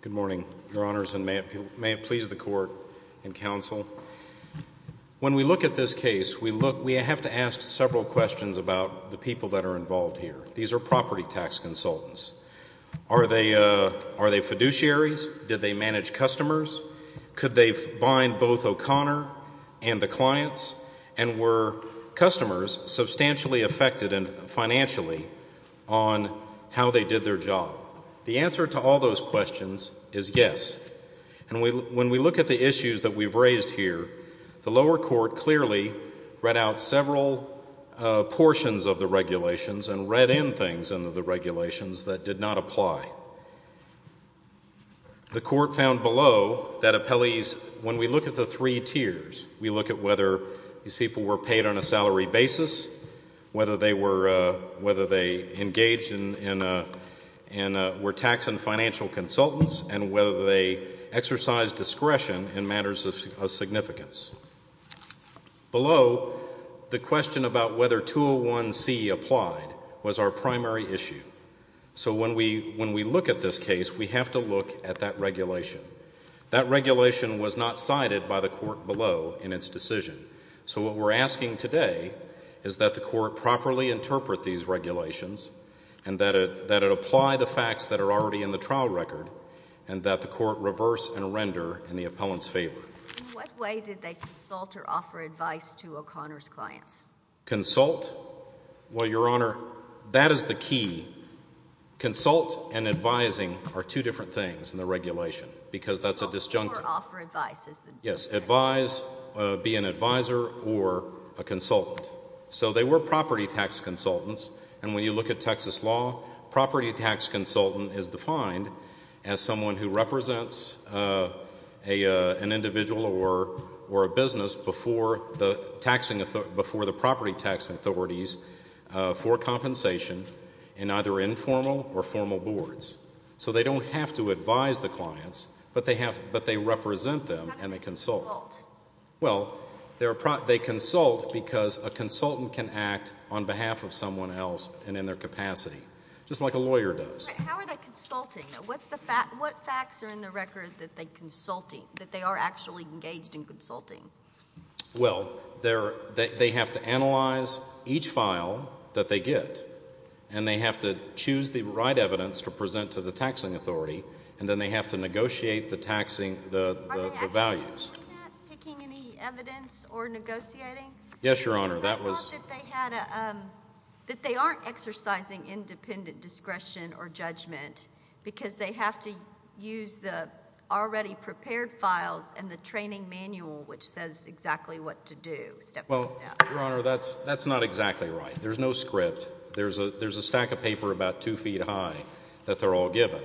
Good morning, your honors, and may it please the court and counsel, when we look at this These are property tax consultants. Are they fiduciaries? Did they manage customers? Could they bind both O'Connor and the clients? And were customers substantially affected financially on how they did their job? The answer to all those questions is yes. And when we look at the issues that we've raised here, the lower court clearly read out several portions of the regulations and read in things into the regulations that did not apply. The court found below that when we look at the three tiers, we look at whether these people were paid on a salary basis, whether they engaged and were tax and financial consultants, and whether they exercised discretion in matters of significance. Below, the question about whether 201C applied was our primary issue. So when we look at this case, we have to look at that regulation. That regulation was not cited by the court below in its decision. So what we're asking today is that the court properly interpret these regulations and that it apply the facts that are already in the trial record and that the court reverse and render in the appellant's favor. In what way did they consult or offer advice to O'Connor's clients? Consult? Well, Your Honor, that is the key. Consult and advising are two different things in the regulation because that's a disjunctive. Consult or offer advice is the… or a business before the property tax authorities for compensation in either informal or formal boards. So they don't have to advise the clients, but they represent them and they consult. How do they consult? Well, they consult because a consultant can act on behalf of someone else and in their capacity, just like a lawyer does. How are they consulting? What facts are in the record that they are actually engaged in consulting? Well, they have to analyze each file that they get and they have to choose the right evidence to present to the taxing authority and then they have to negotiate the values. Are they actually doing that, picking any evidence or negotiating? Yes, Your Honor. I thought that they had a… that they aren't exercising independent discretion or judgment because they have to use the already prepared files and the training manual which says exactly what to do, step by step. Well, Your Honor, that's not exactly right. There's no script. There's a stack of paper about two feet high that they're all given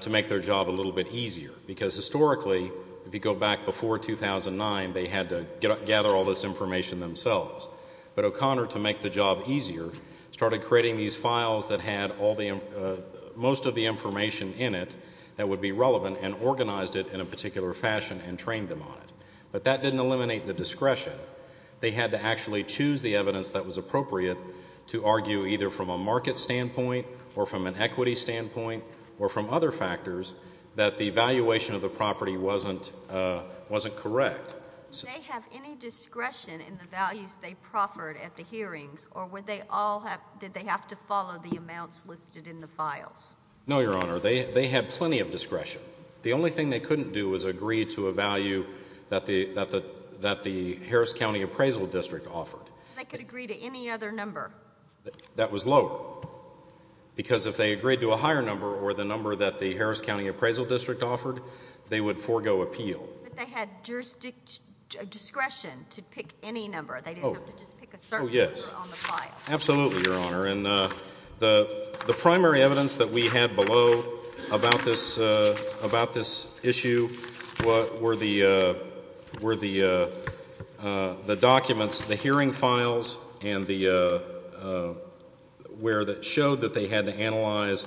to make their job a little bit easier because historically, if you go back before 2009, they had to gather all this information themselves. But O'Connor, to make the job easier, started creating these files that had most of the information in it that would be relevant and organized it in a particular fashion and trained them on it. But that didn't eliminate the discretion. They had to actually choose the evidence that was appropriate to argue either from a market standpoint or from an equity standpoint or from other factors that the valuation of the property wasn't correct. Did they have any discretion in the values they proffered at the hearings or did they have to follow the amounts listed in the files? No, Your Honor. They had plenty of discretion. The only thing they couldn't do was agree to a value that the Harris County Appraisal District offered. They could agree to any other number? That was low because if they agreed to a higher number or the number that the Harris County Appraisal District offered, they would forego appeal. But they had jurisdiction to pick any number. They didn't have to just pick a certain number on the file. Oh, yes. Absolutely, Your Honor. The primary evidence that we had below about this issue were the documents, the hearing files, and where it showed that they had to analyze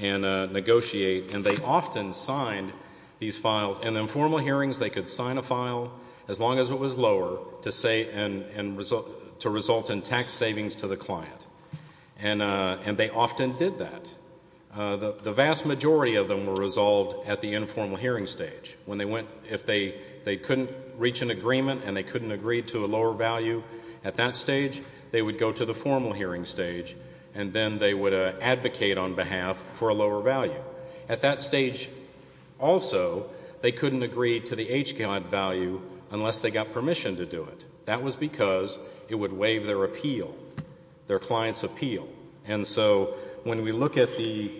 and negotiate. And they often signed these files. In informal hearings, they could sign a file, as long as it was lower, to result in tax savings to the client. And they often did that. The vast majority of them were resolved at the informal hearing stage. If they couldn't reach an agreement and they couldn't agree to a lower value at that stage, they would go to the formal hearing stage and then they would advocate on behalf for a lower value. At that stage, also, they couldn't agree to the H guide value unless they got permission to do it. That was because it would waive their appeal, their client's appeal. And so when we look at the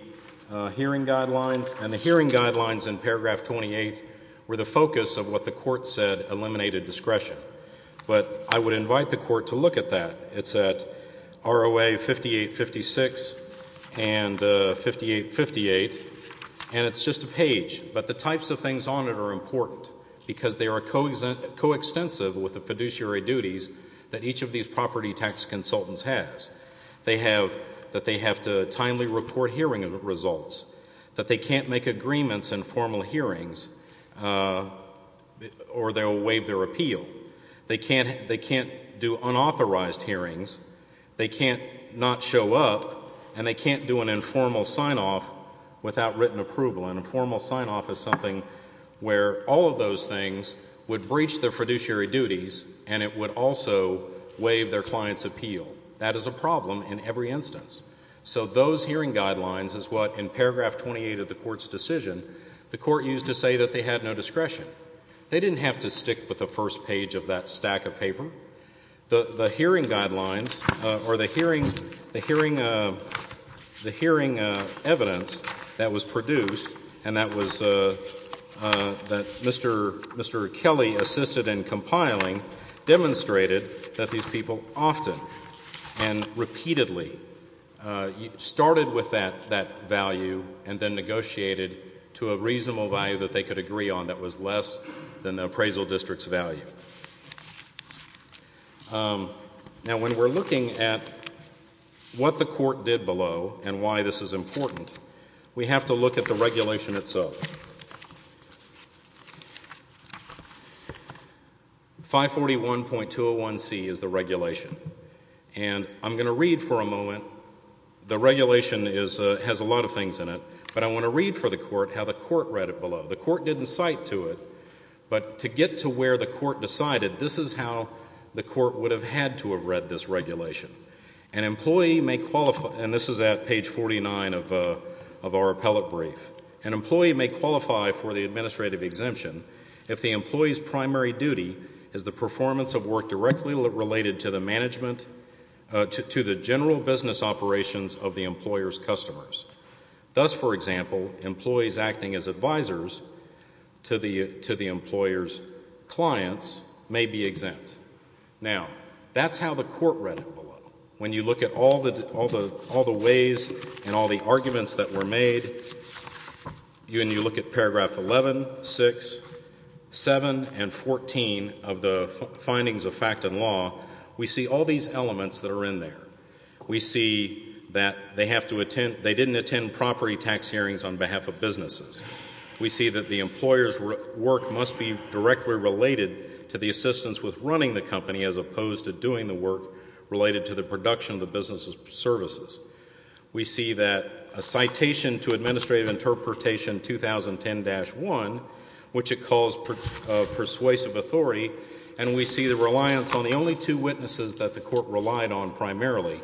hearing guidelines, and the hearing guidelines in paragraph 28 were the focus of what the court said eliminated discretion. But I would invite the court to look at that. It's at ROA 5856 and 5858, and it's just a page. But the types of things on it are important because they are coextensive with the fiduciary duties that each of these property tax consultants has. They have that they have to timely report hearing results, that they can't make agreements in formal hearings or they'll waive their appeal. They can't do unauthorized hearings. They can't not show up, and they can't do an informal sign-off without written approval. An informal sign-off is something where all of those things would breach their fiduciary duties and it would also waive their client's appeal. That is a problem in every instance. So those hearing guidelines is what, in paragraph 28 of the court's decision, the court used to say that they had no discretion. They didn't have to stick with the first page of that stack of paper. The hearing guidelines or the hearing evidence that was produced and that Mr. Kelly assisted in compiling demonstrated that these people often and repeatedly started with that value and then negotiated to a reasonable value that they could agree on that was less than the appraisal district's value. Now, when we're looking at what the court did below and why this is important, we have to look at the regulation itself. 541.201C is the regulation. And I'm going to read for a moment. The regulation has a lot of things in it, but I want to read for the court how the court read it below. The court didn't cite to it, but to get to where the court decided, this is how the court would have had to have read this regulation. An employee may qualify, and this is at page 49 of our appellate brief, an employee may qualify for the administrative exemption if the employee's primary duty is the performance of work directly related to the management, to the general business operations of the employer's customers. Thus, for example, employees acting as advisors to the employer's clients may be exempt. Now, that's how the court read it below. When you look at all the ways and all the arguments that were made, when you look at paragraph 11, 6, 7, and 14 of the findings of fact and law, we see all these elements that are in there. We see that they didn't attend property tax hearings on behalf of businesses. We see that the employer's work must be directly related to the assistance with running the company as opposed to doing the work related to the production of the business's services. We see that a citation to administrative interpretation 2010-1, which it calls persuasive authority, and we see the reliance on the only two witnesses that the court relied on primarily,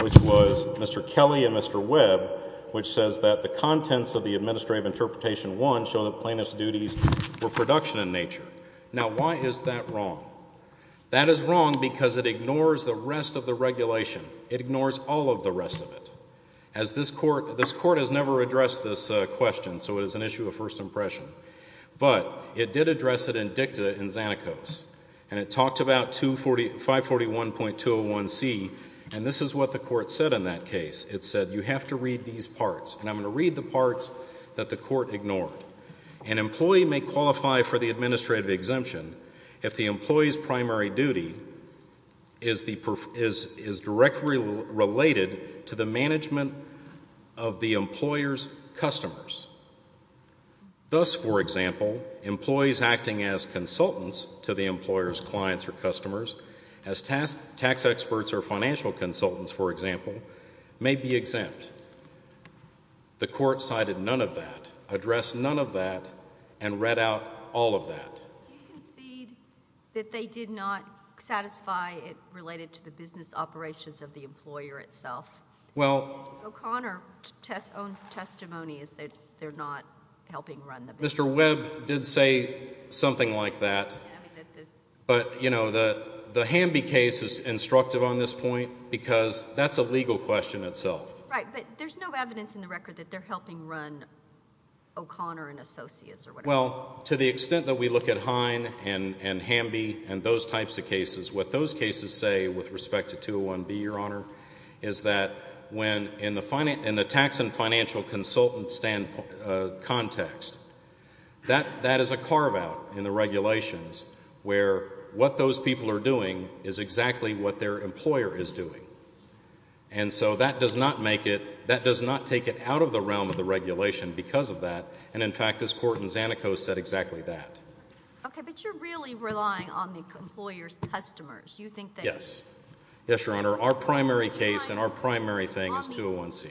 which was Mr. Kelly and Mr. Webb, which says that the contents of the administrative interpretation 1 show that plaintiff's duties were production in nature. Now, why is that wrong? That is wrong because it ignores the rest of the regulation. It ignores all of the rest of it. This court has never addressed this question, so it is an issue of first impression. But it did address it in dicta in Xanakos, and it talked about 541.201C, and this is what the court said in that case. It said you have to read these parts, and I'm going to read the parts that the court ignored. An employee may qualify for the administrative exemption if the employee's primary duty is directly related to the management of the employer's customers. Thus, for example, employees acting as consultants to the employer's clients or customers, as tax experts or financial consultants, for example, may be exempt. The court cited none of that, addressed none of that, and read out all of that. Do you concede that they did not satisfy it related to the business operations of the employer itself? O'Connor's own testimony is that they're not helping run the business. Mr. Webb did say something like that, but the Hamby case is instructive on this point because that's a legal question itself. Right, but there's no evidence in the record that they're helping run O'Connor and Associates or whatever. Well, to the extent that we look at Hine and Hamby and those types of cases, what those cases say with respect to 201B, Your Honor, is that in the tax and financial consultant context, that is a carve-out in the regulations where what those people are doing is exactly what their employer is doing. And so that does not take it out of the realm of the regulation because of that, and in fact this court in Zanico said exactly that. Okay, but you're really relying on the employer's customers. Yes. Yes, Your Honor. Our primary case and our primary thing is 201C.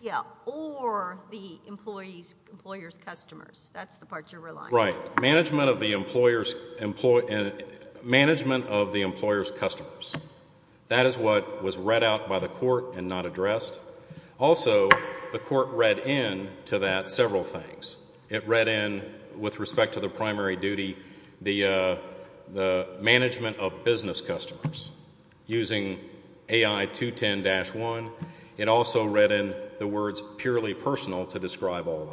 Yeah, or the employer's customers. That's the part you're relying on. Right. Management of the employer's customers. That is what was read out by the court and not addressed. Also, the court read in to that several things. It read in, with respect to the primary duty, the management of business customers using AI210-1. It also read in the words purely personal to describe all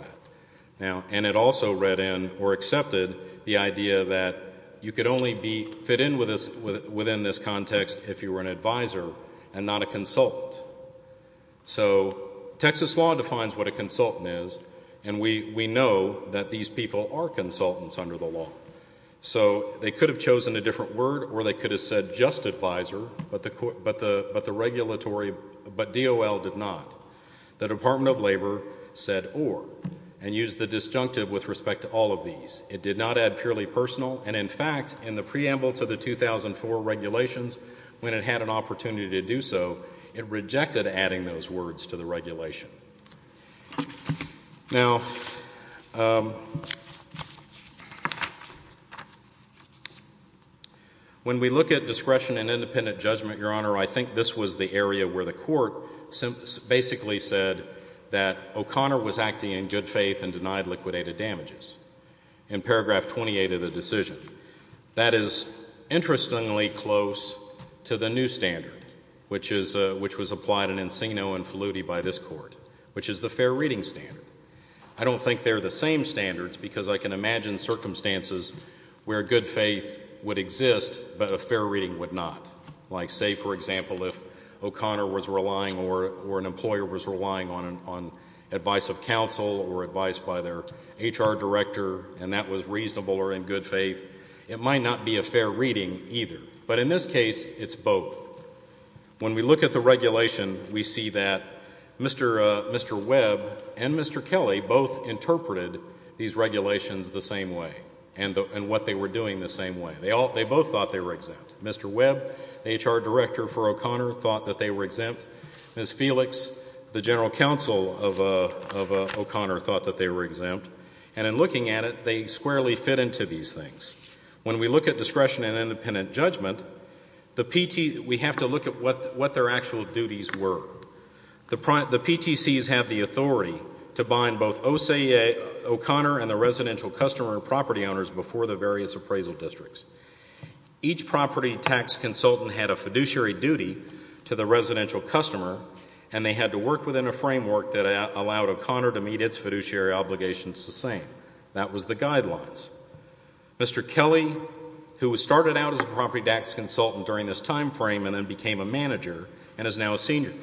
that. And it also read in or accepted the idea that you could only fit in within this context if you were an advisor and not a consultant. So Texas law defines what a consultant is, and we know that these people are consultants under the law. So they could have chosen a different word or they could have said just advisor, but the regulatory, but DOL did not. The Department of Labor said or, and used the disjunctive with respect to all of these. It did not add purely personal, and in fact, in the preamble to the 2004 regulations when it had an opportunity to do so, it rejected adding those words to the regulation. Now, when we look at discretion and independent judgment, Your Honor, I think this was the area where the court basically said that O'Connor was acting in good faith and denied liquidated damages in paragraph 28 of the decision. That is interestingly close to the new standard, which was applied in Encino and Faludi by this court, which is the fair reading standard. I don't think they're the same standards because I can imagine circumstances where good faith would exist but a fair reading would not. Like, say, for example, if O'Connor was relying or an employer was relying on advice of counsel or advice by their HR director and that was reasonable or in good faith, it might not be a fair reading either. But in this case, it's both. When we look at the regulation, we see that Mr. Webb and Mr. Kelly both interpreted these regulations the same way and what they were doing the same way. They both thought they were exempt. Mr. Webb, the HR director for O'Connor, thought that they were exempt. Ms. Felix, the general counsel of O'Connor, thought that they were exempt. And in looking at it, they squarely fit into these things. When we look at discretion and independent judgment, we have to look at what their actual duties were. The PTCs have the authority to bind both OCA O'Connor and the residential customer property owners before the various appraisal districts. Each property tax consultant had a fiduciary duty to the residential customer and they had to work within a framework that allowed O'Connor to meet its fiduciary obligations the same. That was the guidelines. Mr. Kelly, who started out as a property tax consultant during this time frame and then became a manager and is now a senior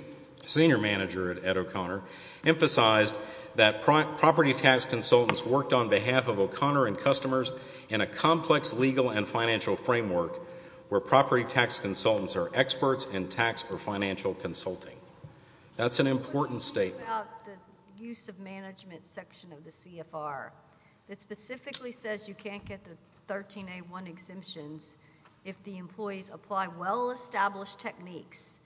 manager at O'Connor, emphasized that property tax consultants worked on behalf of O'Connor and customers in a complex legal and financial framework where property tax consultants are experts in tax or financial consulting. That's an important statement. What do you think about the use of management section of the CFR that specifically says you can't get the 13A1 exemptions if the employees apply well-established techniques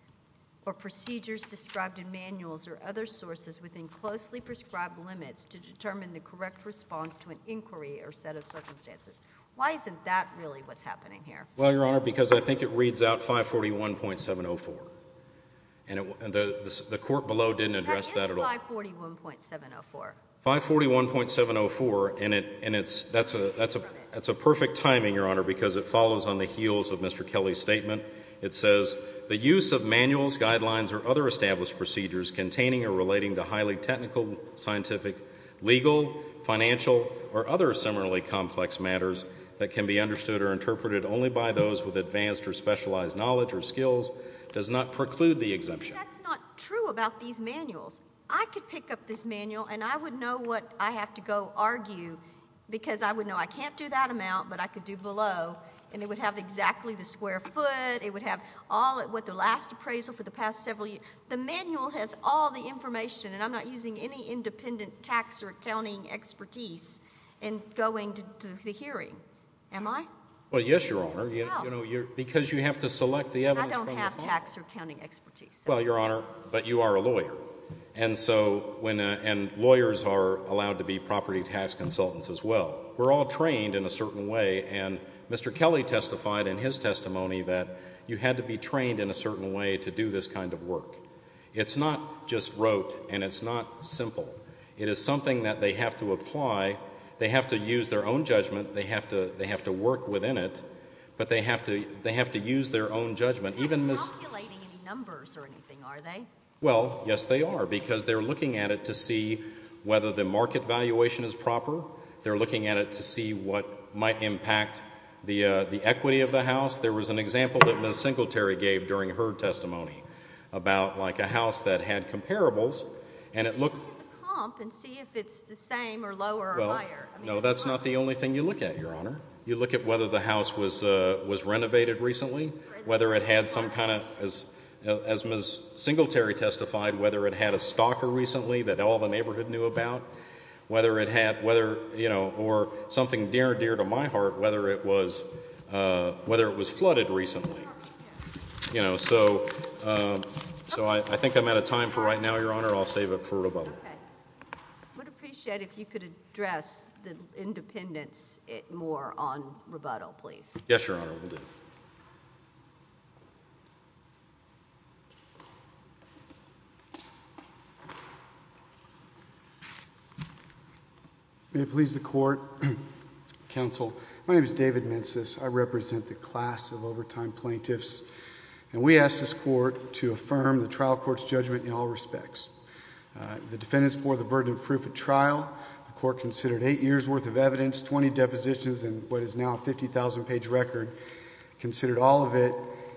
or procedures described in manuals or other sources within closely prescribed limits to determine the correct response to an inquiry or set of circumstances? Why isn't that really what's happening here? Well, Your Honor, because I think it reads out 541.704, and the court below didn't address that at all. That is 541.704. 541.704, and that's a perfect timing, Your Honor, because it follows on the heels of Mr. Kelly's statement. It says, the use of manuals, guidelines, or other established procedures containing or relating to highly technical, scientific, legal, financial, or other similarly complex matters that can be understood or interpreted only by those with advanced or specialized knowledge or skills does not preclude the exemption. That's not true about these manuals. I could pick up this manual, and I would know what I have to go argue because I would know I can't do that amount, but I could do below, and it would have exactly the square foot. It would have all what the last appraisal for the past several years. The manual has all the information, and I'm not using any independent tax or accounting expertise in going to the hearing, am I? Well, yes, Your Honor, because you have to select the evidence from the file. I don't have tax or accounting expertise. Well, Your Honor, but you are a lawyer, and lawyers are allowed to be property tax consultants as well. We're all trained in a certain way, and Mr. Kelly testified in his testimony that you had to be trained in a certain way to do this kind of work. It's not just rote, and it's not simple. It is something that they have to apply. They have to use their own judgment. They have to work within it, but they have to use their own judgment. They're not calculating any numbers or anything, are they? Well, yes, they are, because they're looking at it to see whether the market valuation is proper. They're looking at it to see what might impact the equity of the House. There was an example that Ms. Singletary gave during her testimony about, like, a house that had comparables, and it looked... Just look at the comp and see if it's the same or lower or higher. No, that's not the only thing you look at, Your Honor. You look at whether the house was renovated recently, whether it had some kind of, as Ms. Singletary testified, whether it had a stalker recently that all the neighborhood knew about, whether it had, you know, or something dear, dear to my heart, whether it was flooded recently. You know, so I think I'm out of time for right now, Your Honor. I'll save it for rebuttal. Okay. I would appreciate if you could address the independents more on rebuttal, please. Yes, Your Honor, I will do. May it please the Court. Counsel, my name is David Mensis. I represent the class of overtime plaintiffs, and we ask this Court to affirm the trial court's judgment in all respects. The defendants bore the burden of proof at trial. The Court considered eight years' worth of evidence, 20 depositions, and what is now a 50,000-page record, considered all of it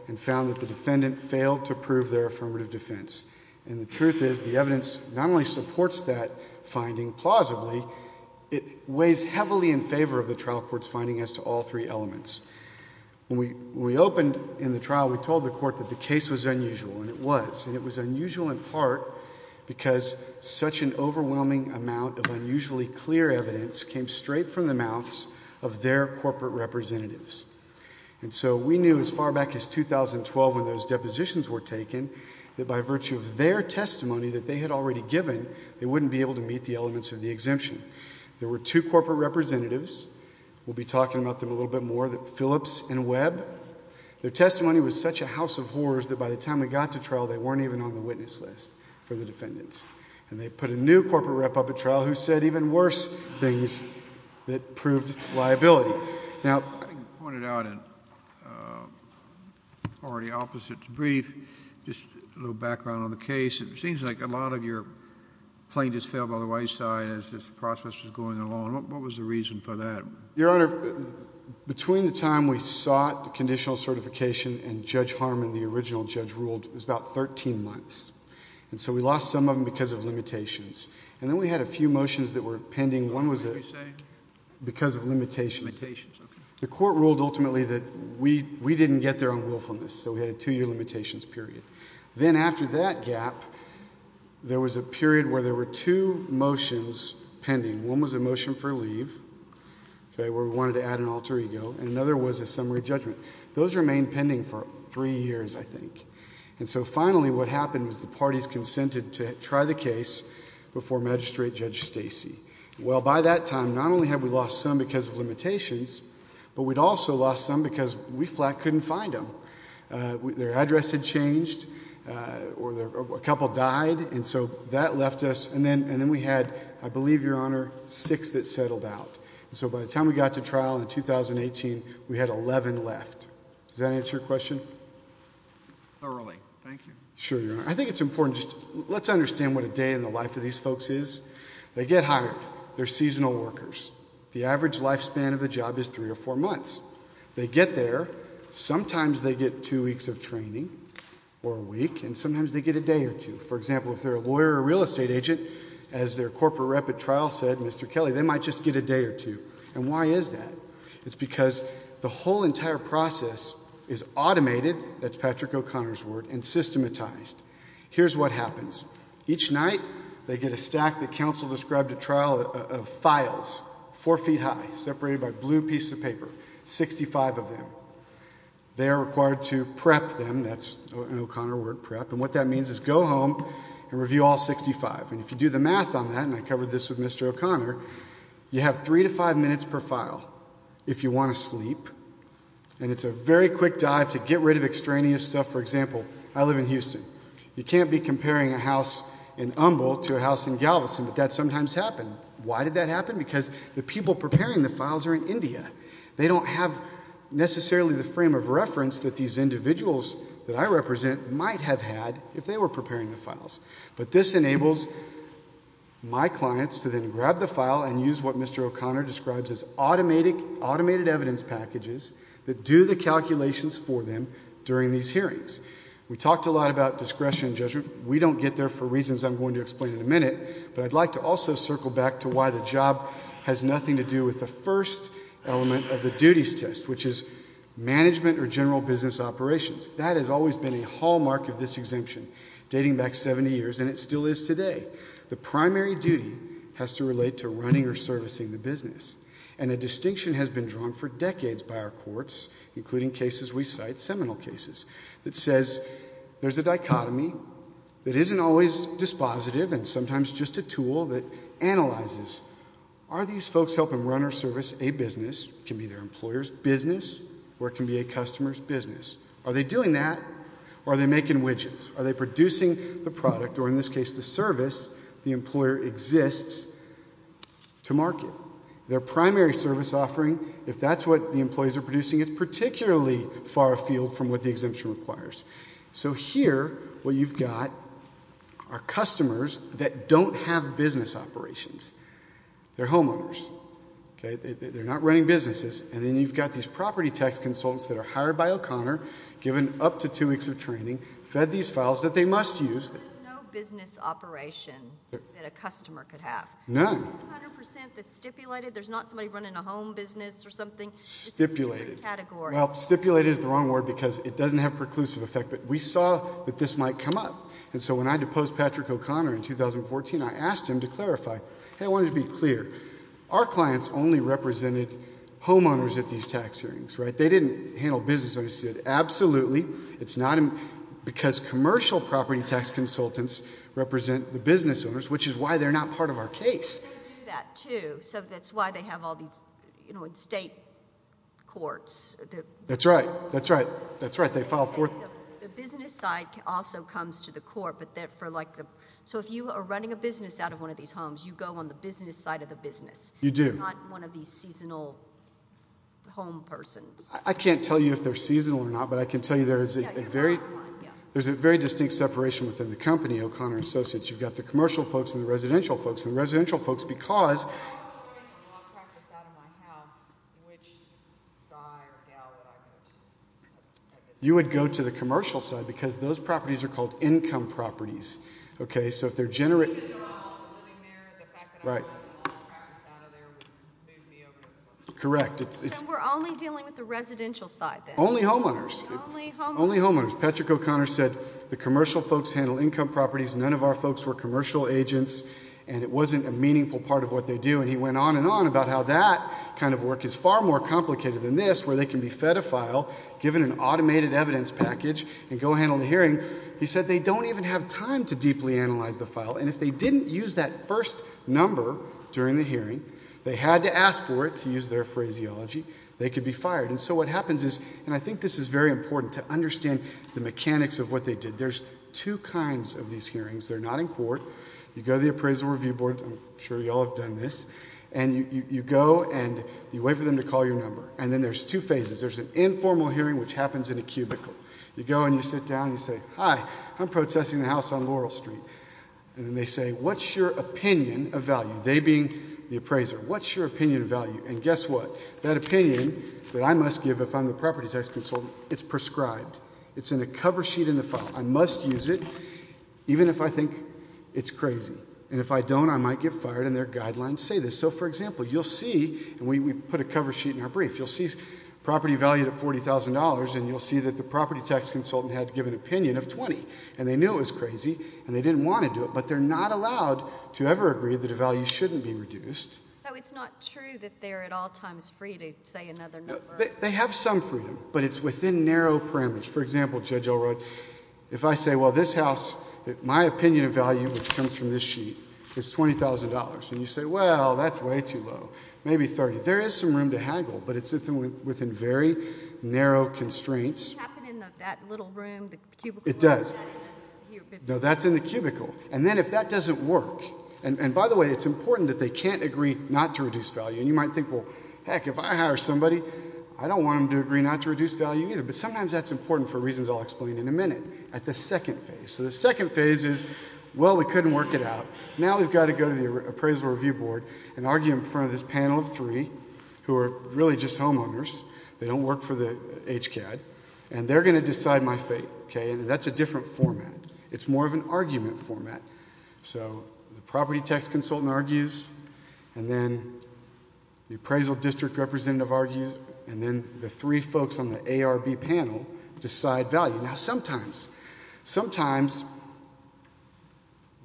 and found that the defendant failed to prove their affirmative defense. And the truth is the evidence not only supports that finding plausibly, it weighs heavily in favor of the trial court's finding as to all three elements. When we opened in the trial, we told the Court that the case was unusual, and it was. And it was unusual in part because such an overwhelming amount of unusually clear evidence came straight from the mouths of their corporate representatives. And so we knew as far back as 2012 when those depositions were taken that by virtue of their testimony that they had already given, they wouldn't be able to meet the elements of the exemption. There were two corporate representatives. We'll be talking about them a little bit more, Phillips and Webb. Their testimony was such a house of horrors that by the time we got to trial, they weren't even on the witness list for the defendants. And they put a new corporate rep up at trial who said even worse things that proved liability. I think you pointed out in already opposite to brief, just a little background on the case, it seems like a lot of your plaintiffs fell by the wayside as this process was going along. What was the reason for that? Your Honor, between the time we sought the conditional certification and Judge Harmon, the original judge, ruled, it was about 13 months. And so we lost some of them because of limitations. And then we had a few motions that were pending. One was because of limitations. Limitations, okay. The Court ruled ultimately that we didn't get there on willfulness, so we had a two-year limitations period. Then after that gap, there was a period where there were two motions pending. One was a motion for leave, okay, where we wanted to add an alter ego. And another was a summary judgment. Those remained pending for three years, I think. And so finally what happened was the parties consented to try the case before Magistrate Judge Stacy. Well, by that time, not only had we lost some because of limitations, but we'd also lost some because we flat couldn't find them. Their address had changed or a couple died, and so that left us. And then we had, I believe, Your Honor, six that settled out. And so by the time we got to trial in 2018, we had 11 left. Does that answer your question? Thoroughly. Thank you. Sure, Your Honor. I think it's important just let's understand what a day in the life of these folks is. They get hired. They're seasonal workers. The average lifespan of the job is three or four months. They get there. Sometimes they get two weeks of training or a week, and sometimes they get a day or two. For example, if they're a lawyer or a real estate agent, as their corporate rep at trial said, Mr. Kelly, they might just get a day or two. And why is that? It's because the whole entire process is automated, that's Patrick O'Connor's word, and systematized. Here's what happens. Each night they get a stack that counsel described at trial of files, four feet high, separated by blue pieces of paper, 65 of them. They are required to prep them. That's an O'Connor word, prep. And what that means is go home and review all 65. And if you do the math on that, and I covered this with Mr. O'Connor, you have three to five minutes per file if you want to sleep. And it's a very quick dive to get rid of extraneous stuff. For example, I live in Houston. You can't be comparing a house in Humboldt to a house in Galveston, but that sometimes happens. Why did that happen? Because the people preparing the files are in India. They don't have necessarily the frame of reference that these individuals that I represent might have had if they were preparing the files. But this enables my clients to then grab the file and use what Mr. O'Connor describes as automated evidence packages that do the calculations for them during these hearings. We talked a lot about discretion and judgment. We don't get there for reasons I'm going to explain in a minute, but I'd like to also circle back to why the job has nothing to do with the first element of the duties test, which is management or general business operations. That has always been a hallmark of this exemption, dating back 70 years, and it still is today. The primary duty has to relate to running or servicing the business. And a distinction has been drawn for decades by our courts, including cases we cite, seminal cases, that says there's a dichotomy that isn't always dispositive and sometimes just a tool that analyzes are these folks helping run or service a business? It can be their employer's business or it can be a customer's business. Are they doing that or are they making widgets? Are they producing the product or, in this case, the service the employer exists to market? Their primary service offering, if that's what the employees are producing, is particularly far afield from what the exemption requires. So here what you've got are customers that don't have business operations. They're homeowners. They're not running businesses. And then you've got these property tax consultants that are hired by O'Connor, given up to two weeks of training, fed these files that they must use. There's no business operation that a customer could have. None. It's 100% that's stipulated. There's not somebody running a home business or something. It's stipulated. It's a different category. Well, stipulated is the wrong word because it doesn't have preclusive effect. But we saw that this might come up. And so when I deposed Patrick O'Connor in 2014, I asked him to clarify. I wanted to be clear. Our clients only represented homeowners at these tax hearings. They didn't handle business owners. Absolutely, it's not because commercial property tax consultants represent the business owners, which is why they're not part of our case. They do that too. So that's why they have all these state courts. That's right. That's right. That's right. The business side also comes to the court. So if you are running a business out of one of these homes, you go on the business side of the business. You do. Not one of these seasonal home persons. I can't tell you if they're seasonal or not, but I can tell you there's a very distinct separation within the company, O'Connor and Associates. You've got the commercial folks and the residential folks. If I was running a law practice out of my house, which guy or gal would I go to? You would go to the commercial side because those properties are called income properties. Okay? So if they're generating- Even though I'm also living there, the fact that I'm running a law practice out of there would move me over. Correct. So we're only dealing with the residential side then? Only homeowners. Only homeowners. Only homeowners. Patrick O'Connor said the commercial folks handle income properties. None of our folks were commercial agents, and it wasn't a meaningful part of what they do. And he went on and on about how that kind of work is far more complicated than this, where they can be fed a file, given an automated evidence package, and go handle the hearing. He said they don't even have time to deeply analyze the file. And if they didn't use that first number during the hearing, they had to ask for it, to use their phraseology. They could be fired. And so what happens is- And I think this is very important to understand the mechanics of what they did. There's two kinds of these hearings. They're not in court. You go to the appraisal review board. I'm sure you all have done this. And you go and you wait for them to call your number. And then there's two phases. There's an informal hearing, which happens in a cubicle. You go and you sit down and you say, Hi, I'm protesting the house on Laurel Street. And then they say, What's your opinion of value? They being the appraiser. What's your opinion of value? And guess what? That opinion that I must give if I'm the property tax consultant, it's prescribed. It's in a cover sheet in the file. I must use it even if I think it's crazy. And if I don't, I might get fired, and their guidelines say this. So, for example, you'll see, and we put a cover sheet in our brief, you'll see property value at $40,000, and you'll see that the property tax consultant had to give an opinion of 20. And they knew it was crazy, and they didn't want to do it, but they're not allowed to ever agree that a value shouldn't be reduced. So it's not true that they're at all times free to say another number? They have some freedom, but it's within narrow parameters. For example, Judge Elrod, if I say, Well, this house, my opinion of value, which comes from this sheet, is $20,000. And you say, Well, that's way too low, maybe 30. There is some room to haggle, but it's within very narrow constraints. Doesn't that happen in that little room, the cubicle? It does. No, that's in the cubicle. And then if that doesn't work, and by the way, it's important that they can't agree not to reduce value. And you might think, Well, heck, if I hire somebody, I don't want them to agree not to reduce value either. But sometimes that's important for reasons I'll explain in a minute, at the second phase. So the second phase is, Well, we couldn't work it out. Now we've got to go to the appraisal review board and argue in front of this panel of three who are really just homeowners. They don't work for the HCAD, and they're going to decide my fate. And that's a different format. It's more of an argument format. So the property tax consultant argues, and then the appraisal district representative argues, and then the three folks on the ARB panel decide value. Now sometimes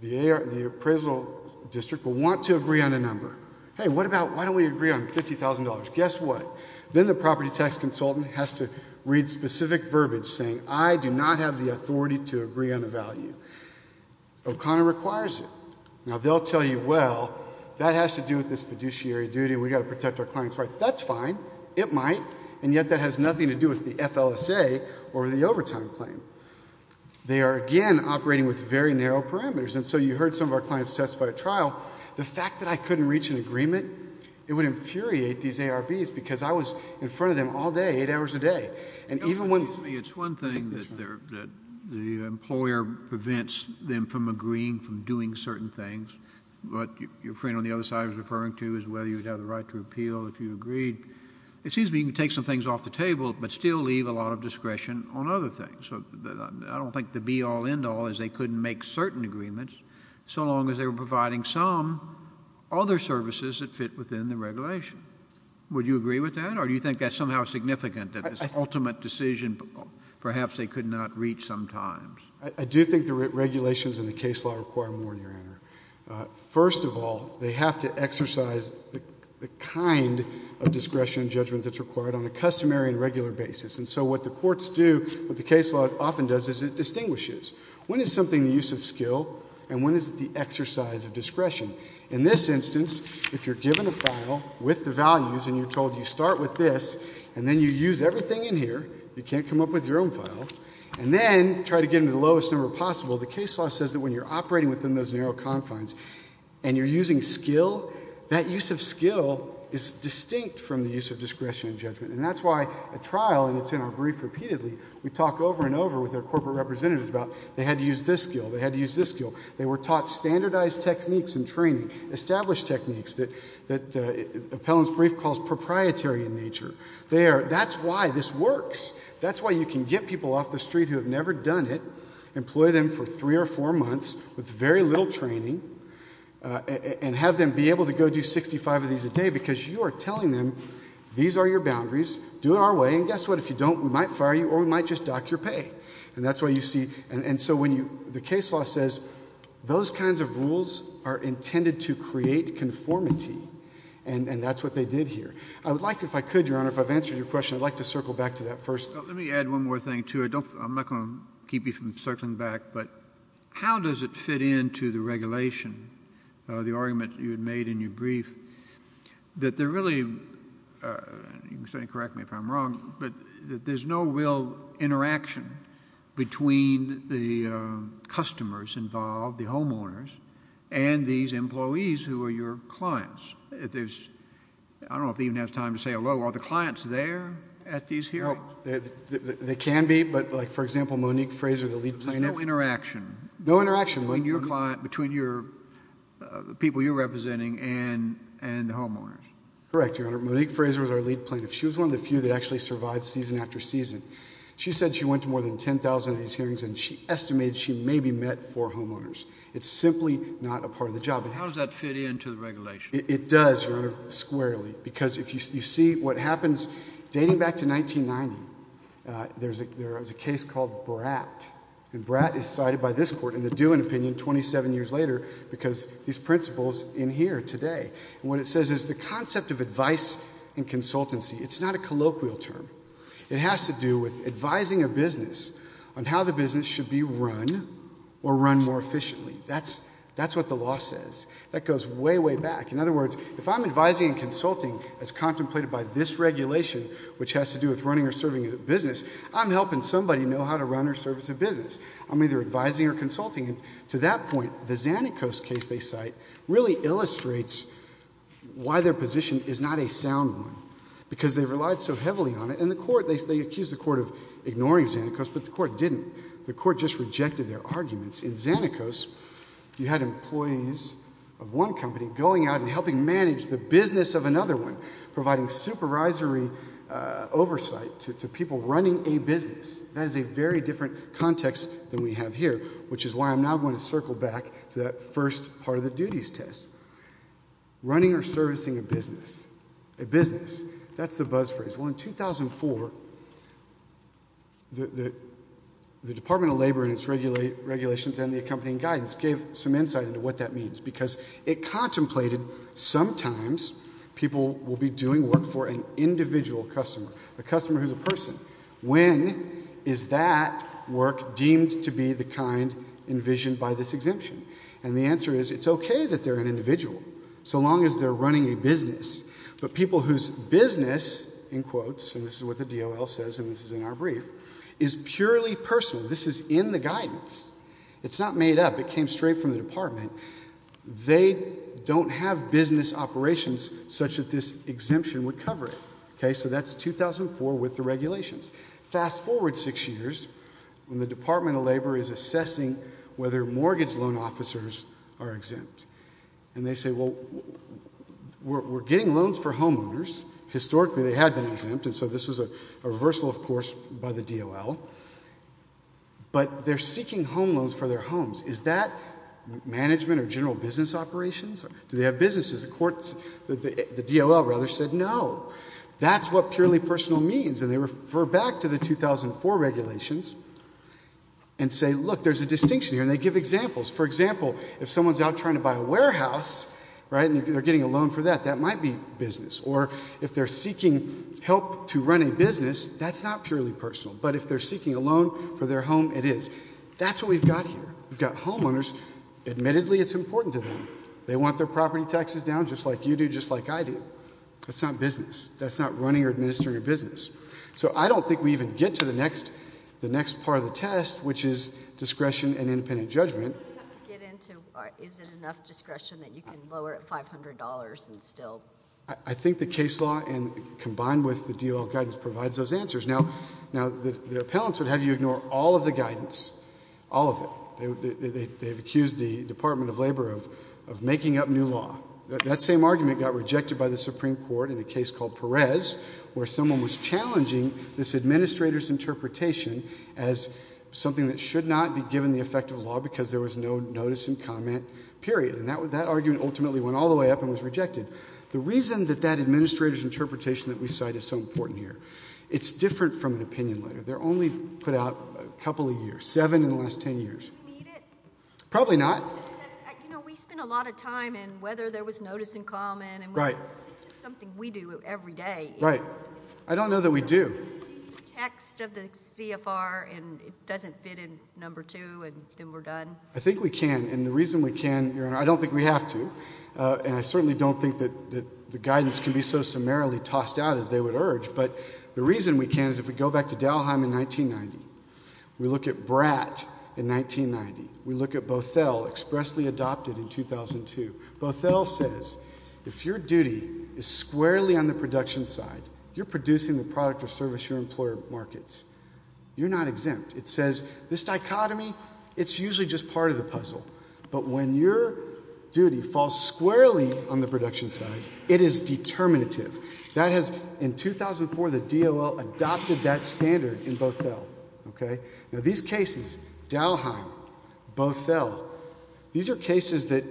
the appraisal district will want to agree on a number. Hey, why don't we agree on $50,000? Guess what? Then the property tax consultant has to read specific verbiage saying, I do not have the authority to agree on a value. O'Connor requires it. Now they'll tell you, Well, that has to do with this fiduciary duty. We've got to protect our client's rights. That's fine. It might. And yet that has nothing to do with the FLSA or the overtime claim. They are, again, operating with very narrow parameters. And so you heard some of our clients testify at trial. The fact that I couldn't reach an agreement, it would infuriate these ARBs because I was in front of them all day, eight hours a day. It's one thing that the employer prevents them from agreeing, from doing certain things. What your friend on the other side was referring to is whether you'd have the right to appeal if you agreed. It seems to me you can take some things off the table but still leave a lot of discretion on other things. I don't think the be-all, end-all is they couldn't make certain agreements so long as they were providing some other services that fit within the regulation. Would you agree with that? Or do you think that's somehow significant that this ultimate decision perhaps they could not reach sometimes? I do think the regulations in the case law require more, Your Honor. First of all, they have to exercise the kind of discretion and judgment that's required on a customary and regular basis. And so what the courts do, what the case law often does, is it distinguishes. When is something the use of skill and when is it the exercise of discretion? In this instance, if you're given a file with the values and you're told you start with this and then you use everything in here, you can't come up with your own file, and then try to get them to the lowest number possible, the case law says that when you're operating within those narrow confines and you're using skill, that use of skill is distinct from the use of discretion and judgment, and that's why a trial, and it's in our brief repeatedly, we talk over and over with our corporate representatives about they had to use this skill, they had to use this skill. They were taught standardized techniques in training, established techniques that Appellant's brief calls proprietary in nature. That's why this works. That's why you can get people off the street who have never done it, employ them for three or four months with very little training, and have them be able to go do 65 of these a day because you are telling them these are your boundaries, do it our way, and guess what? If you don't, we might fire you or we might just dock your pay. And that's why you see, and so when you, the case law says those kinds of rules are intended to create conformity, and that's what they did here. I would like, if I could, Your Honor, if I've answered your question, I'd like to circle back to that first. Let me add one more thing, too. I'm not going to keep you from circling back, but how does it fit into the regulation, the argument you had made in your brief, that there really, you can certainly correct me if I'm wrong, but there's no real interaction between the customers involved, the homeowners, and these employees who are your clients. There's, I don't know if they even have time to say hello. Are the clients there at these hearings? They can be, but like, for example, Monique Fraser, the lead plaintiff. There's no interaction between your client, between the people you're representing and the homeowners. Correct, Your Honor. Monique Fraser was our lead plaintiff. She was one of the few that actually survived season after season. She said she went to more than 10,000 of these hearings, and she estimated she maybe met four homeowners. It's simply not a part of the job. How does that fit into the regulation? It does, Your Honor, squarely, because if you see what happens dating back to 1990, there was a case called Bratt, and Bratt is cited by this court in the Dewan opinion 27 years later because these principles in here today. What it says is the concept of advice and consultancy. It's not a colloquial term. It has to do with advising a business on how the business should be run or run more efficiently. That's what the law says. That goes way, way back. In other words, if I'm advising and consulting as contemplated by this regulation, which has to do with running or serving a business, I'm either advising or consulting. To that point, the Zanacos case they cite really illustrates why their position is not a sound one because they relied so heavily on it, and they accused the court of ignoring Zanacos, but the court didn't. The court just rejected their arguments. In Zanacos, you had employees of one company going out and helping manage the business of another one, providing supervisory oversight to people running a business. That is a very different context than we have here, which is why I'm now going to circle back to that first part of the duties test. Running or servicing a business. A business. That's the buzz phrase. Well, in 2004, the Department of Labor and its regulations and the accompanying guidance gave some insight into what that means because it contemplated sometimes people will be doing work for an individual customer, a customer who's a person. When is that work deemed to be the kind envisioned by this exemption? And the answer is it's okay that they're an individual so long as they're running a business, but people whose business, in quotes, and this is what the DOL says, and this is in our brief, is purely personal. This is in the guidance. It's not made up. It came straight from the department. They don't have business operations such that this exemption would cover it. So that's 2004 with the regulations. Fast forward six years when the Department of Labor is assessing whether mortgage loan officers are exempt. And they say, well, we're getting loans for homeowners. Historically, they had been exempt, and so this was a reversal, of course, by the DOL. But they're seeking home loans for their homes. Is that management or general business operations? Do they have businesses? The DOL said no. That's what purely personal means, and they refer back to the 2004 regulations and say, look, there's a distinction here, and they give examples. For example, if someone's out trying to buy a warehouse, and they're getting a loan for that, that might be business. Or if they're seeking help to run a business, that's not purely personal. But if they're seeking a loan for their home, it is. That's what we've got here. We've got homeowners. Admittedly, it's important to them. They want their property taxes down just like you do, just like I do. That's not business. That's not running or administering a business. So I don't think we even get to the next part of the test, which is discretion and independent judgment. Do you have to get into, is it enough discretion that you can lower it $500 and still? I think the case law combined with the DOL guidance provides those answers. Now, the appellants would have you ignore all of the guidance, all of it. They've accused the Department of Labor of making up new law. That same argument got rejected by the Supreme Court in a case called Perez, where someone was challenging this administrator's interpretation as something that should not be given the effect of law because there was no notice and comment, period. And that argument ultimately went all the way up and was rejected. The reason that that administrator's interpretation that we cite is so important here, it's different from an opinion letter. They're only put out a couple of years, 7 in the last 10 years. Do we need it? Probably not. You know, we spend a lot of time in whether there was notice and comment. Right. This is something we do every day. Right. I don't know that we do. Excuse the text of the CFR and it doesn't fit in number 2 and then we're done. I think we can, and the reason we can, Your Honor, I don't think we have to, and I certainly don't think that the guidance can be so summarily tossed out as they would urge, but the reason we can is if we go back to Dalheim in 1990, we look at Bratt in 1990, we look at Bothell expressly adopted in 2002. Bothell says if your duty is squarely on the production side, you're producing the product or service your employer markets. You're not exempt. It says this dichotomy, it's usually just part of the puzzle, but when your duty falls squarely on the production side, it is determinative. That has, in 2004, the DOL adopted that standard in Bothell. Now, these cases, Dalheim, Bothell, these are cases that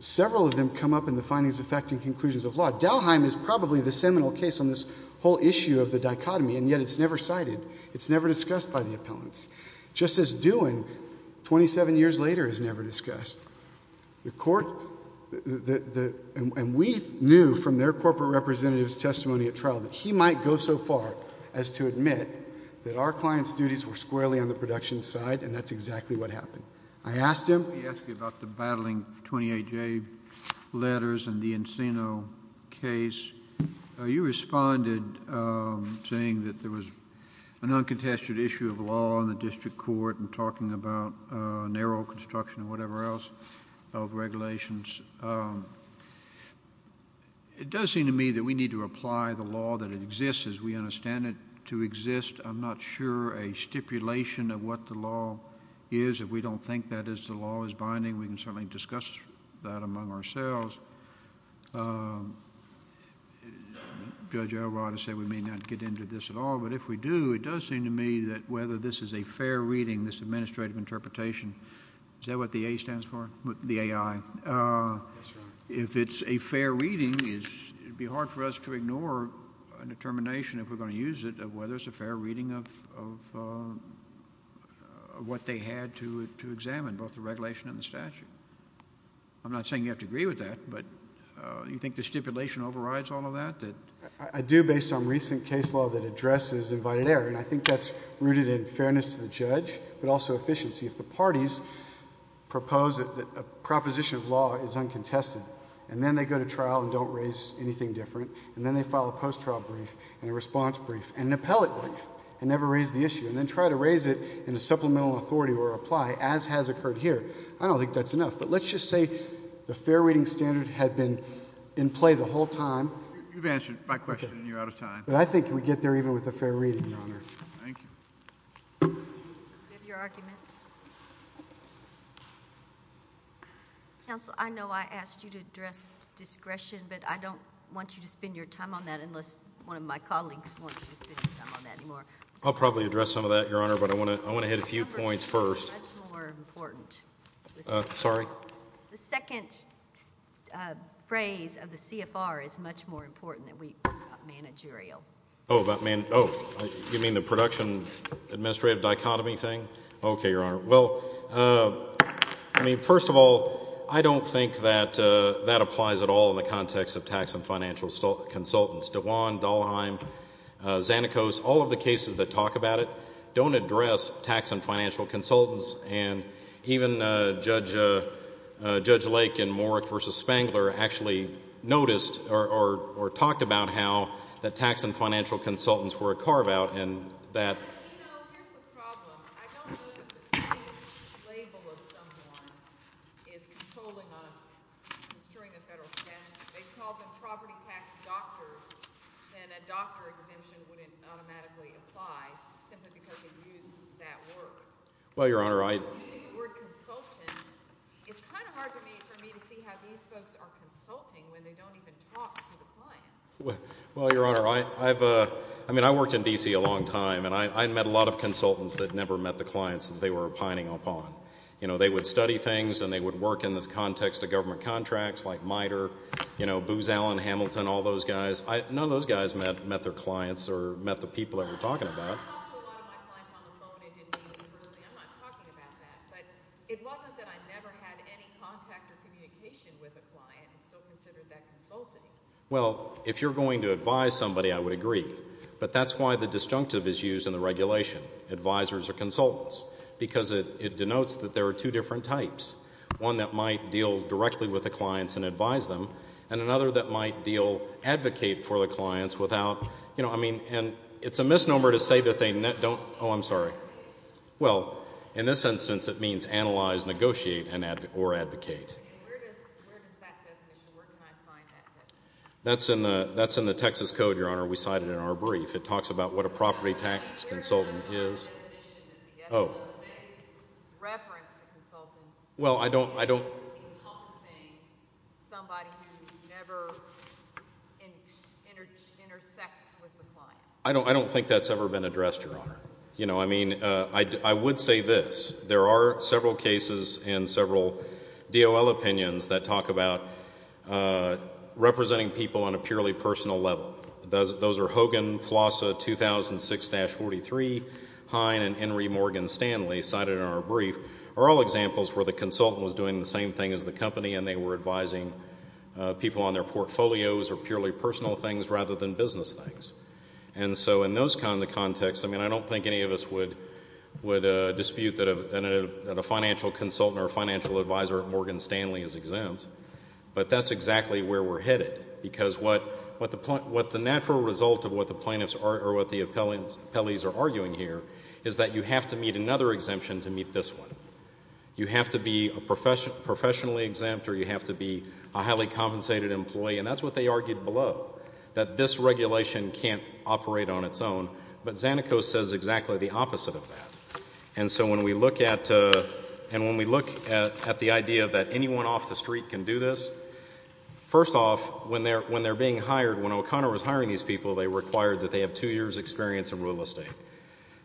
several of them come up in the findings of fact and conclusions of law. Dalheim is probably the seminal case on this whole issue of the dichotomy, and yet it's never cited. It's never discussed by the appellants. Just as Dewin, 27 years later, is never discussed. And we knew from their corporate representative's testimony at trial that he might go so far as to admit that our client's duties were squarely on the production side, and that's exactly what happened. I asked him... Let me ask you about the battling 28J letters and the Encino case. You responded saying that there was an uncontested issue of law in the district court and talking about narrow construction and whatever else of regulations. It does seem to me that we need to apply the law that it exists, as we understand it, to exist. I'm not sure a stipulation of what the law is. If we don't think that the law is binding, we can certainly discuss that among ourselves. Judge Elrod has said we may not get into this at all, but if we do, it does seem to me that whether this is a fair reading, this administrative interpretation... Is that what the A stands for? The AI. If it's a fair reading, it would be hard for us to ignore a determination, if we're going to use it, of whether it's a fair reading of what they had to examine, both the regulation and the statute. I'm not saying you have to agree with that, but do you think the stipulation overrides all of that? I do, based on recent case law that addresses invited error, and I think that's rooted in fairness to the judge, but also efficiency. If the parties propose that a proposition of law is uncontested and then they go to trial and don't raise anything different, and then they file a post-trial brief and a response brief and an appellate brief and never raise the issue and then try to raise it in a supplemental authority or apply, as has occurred here, I don't think that's enough. But let's just say the fair reading standard had been in play the whole time... You've answered my question and you're out of time. But I think we get there even with a fair reading, Your Honor. Thank you. Do you have your argument? Counsel, I know I asked you to address discretion, but I don't want you to spend your time on that unless one of my colleagues wants you to spend your time on that anymore. I'll probably address some of that, Your Honor, but I want to hit a few points first. The number is much more important. Sorry? The second phrase of the CFR is much more important than we talk about managerial. Oh, you mean the production administrative dichotomy thing? Okay, Your Honor. Well, I mean, first of all, I don't think that that applies at all in the context of tax and financial consultants. Dewan, Dahlheim, Zanikos, all of the cases that talk about it don't address tax and financial consultants, and even Judge Lake in Moorock v. Spangler actually noticed or talked about how the tax and financial consultants were a carve-out in that. Well, you know, here's the problem. I don't know that the same label of someone is controlling a federal statute. If they called them property tax doctors, then a doctor exemption wouldn't automatically apply simply because they used that word. Well, Your Honor, I— The word consultant, it's kind of hard for me to see how these folks are consulting when they don't even talk to the client. Well, Your Honor, I've—I mean, I worked in D.C. a long time, and I met a lot of consultants that never met the clients that they were pining upon. You know, they would study things, and they would work in the context of government contracts like MITRE, you know, Booz Allen, Hamilton, all those guys. None of those guys met their clients or met the people that we're talking about. I talked to a lot of my clients on the phone and didn't meet them personally. I'm not talking about that. But it wasn't that I never had any contact or communication with a client. I still considered that consulting. Well, if you're going to advise somebody, I would agree. But that's why the disjunctive is used in the regulation, advisers or consultants, because it denotes that there are two different types, one that might deal directly with the clients and advise them and another that might deal—advocate for the clients without— You know, I mean, and it's a misnomer to say that they don't—oh, I'm sorry. Well, in this instance, it means analyze, negotiate, or advocate. Where does that definition—where can I find that definition? That's in the Texas Code, Your Honor. We cite it in our brief. It talks about what a property tax consultant is. Where does that definition of the other one say? Reference to consultant. Well, I don't— Somebody who never intersects with the client. I don't think that's ever been addressed, Your Honor. You know, I mean, I would say this. There are several cases and several DOL opinions that talk about representing people on a purely personal level. Those are Hogan, Flossa, 2006-43, Hine, and Henry Morgan Stanley cited in our brief are all examples where the consultant was doing the same thing as the company and they were advising people on their portfolios or purely personal things rather than business things. And so in those kinds of contexts, I mean, I don't think any of us would dispute that a financial consultant or a financial advisor at Morgan Stanley is exempt, but that's exactly where we're headed because what the natural result of what the plaintiffs or what the appellees are arguing here is that you have to meet another exemption to meet this one. You have to be professionally exempt or you have to be a highly compensated employee, and that's what they argued below, that this regulation can't operate on its own. But Zanico says exactly the opposite of that. And so when we look at the idea that anyone off the street can do this, first off, when they're being hired, when O'Connor was hiring these people, they required that they have two years' experience in real estate.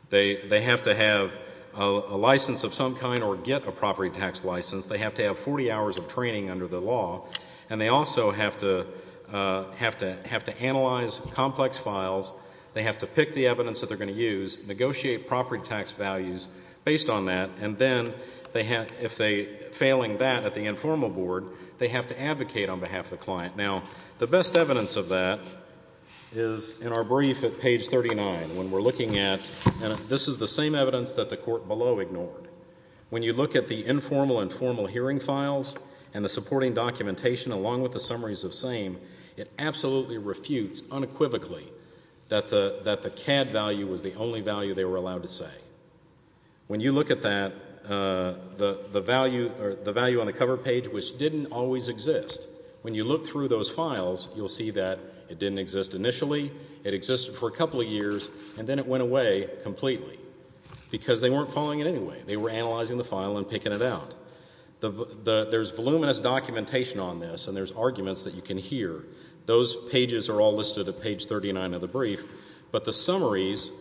They have to have a license of some kind or get a property tax license. They have to have 40 hours of training under the law. And they also have to analyze complex files. They have to pick the evidence that they're going to use, negotiate property tax values based on that, and then if they're failing that at the informal board, they have to advocate on behalf of the client. Now, the best evidence of that is in our brief at page 39 when we're looking at and this is the same evidence that the court below ignored. When you look at the informal and formal hearing files and the supporting documentation along with the summaries of same, it absolutely refutes unequivocally that the CAD value was the only value they were allowed to say. When you look at that, the value on the cover page, which didn't always exist, when you look through those files, you'll see that it didn't exist initially, it existed for a couple of years, and then it went away completely because they weren't following it anyway. They were analyzing the file and picking it out. There's voluminous documentation on this and there's arguments that you can hear. Those pages are all listed at page 39 of the brief, but the summaries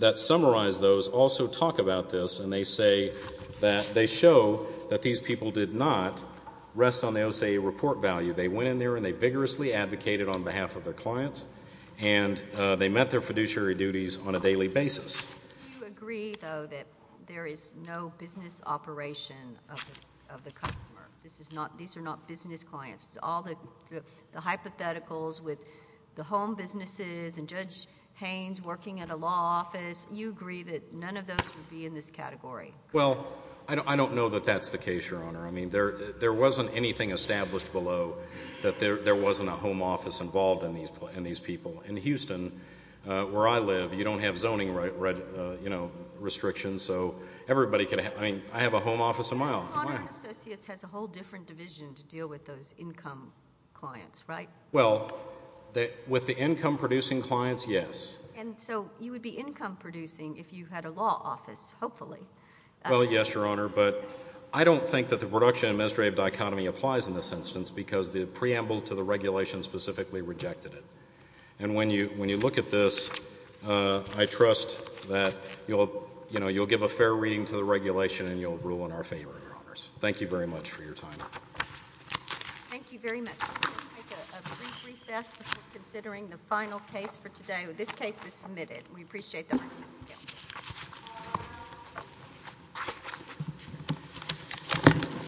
that summarize those also talk about this and they say that they show that these people did not rest on the OCA report value. They went in there and they vigorously advocated on behalf of their clients and they met their fiduciary duties on a daily basis. Do you agree, though, that there is no business operation of the customer? These are not business clients. All the hypotheticals with the home businesses and Judge Haynes working at a law office, you agree that none of those would be in this category? Well, I don't know that that's the case, Your Honor. I mean, there wasn't anything established below that there wasn't a home office involved in these people. In Houston, where I live, you don't have zoning restrictions, so everybody could have—I mean, I have a home office of my own. Conard and Associates has a whole different division to deal with those income clients, right? Well, with the income-producing clients, yes. And so you would be income-producing if you had a law office, hopefully. Well, yes, Your Honor, but I don't think that the production-administrative dichotomy applies in this instance because the preamble to the regulation specifically rejected it. And when you look at this, I trust that you'll give a fair reading to the regulation and you'll rule in our favor, Your Honors. Thank you very much for your time. Thank you very much. We're going to take a brief recess before considering the final case for today. This case is submitted. We appreciate the arguments. Thank you.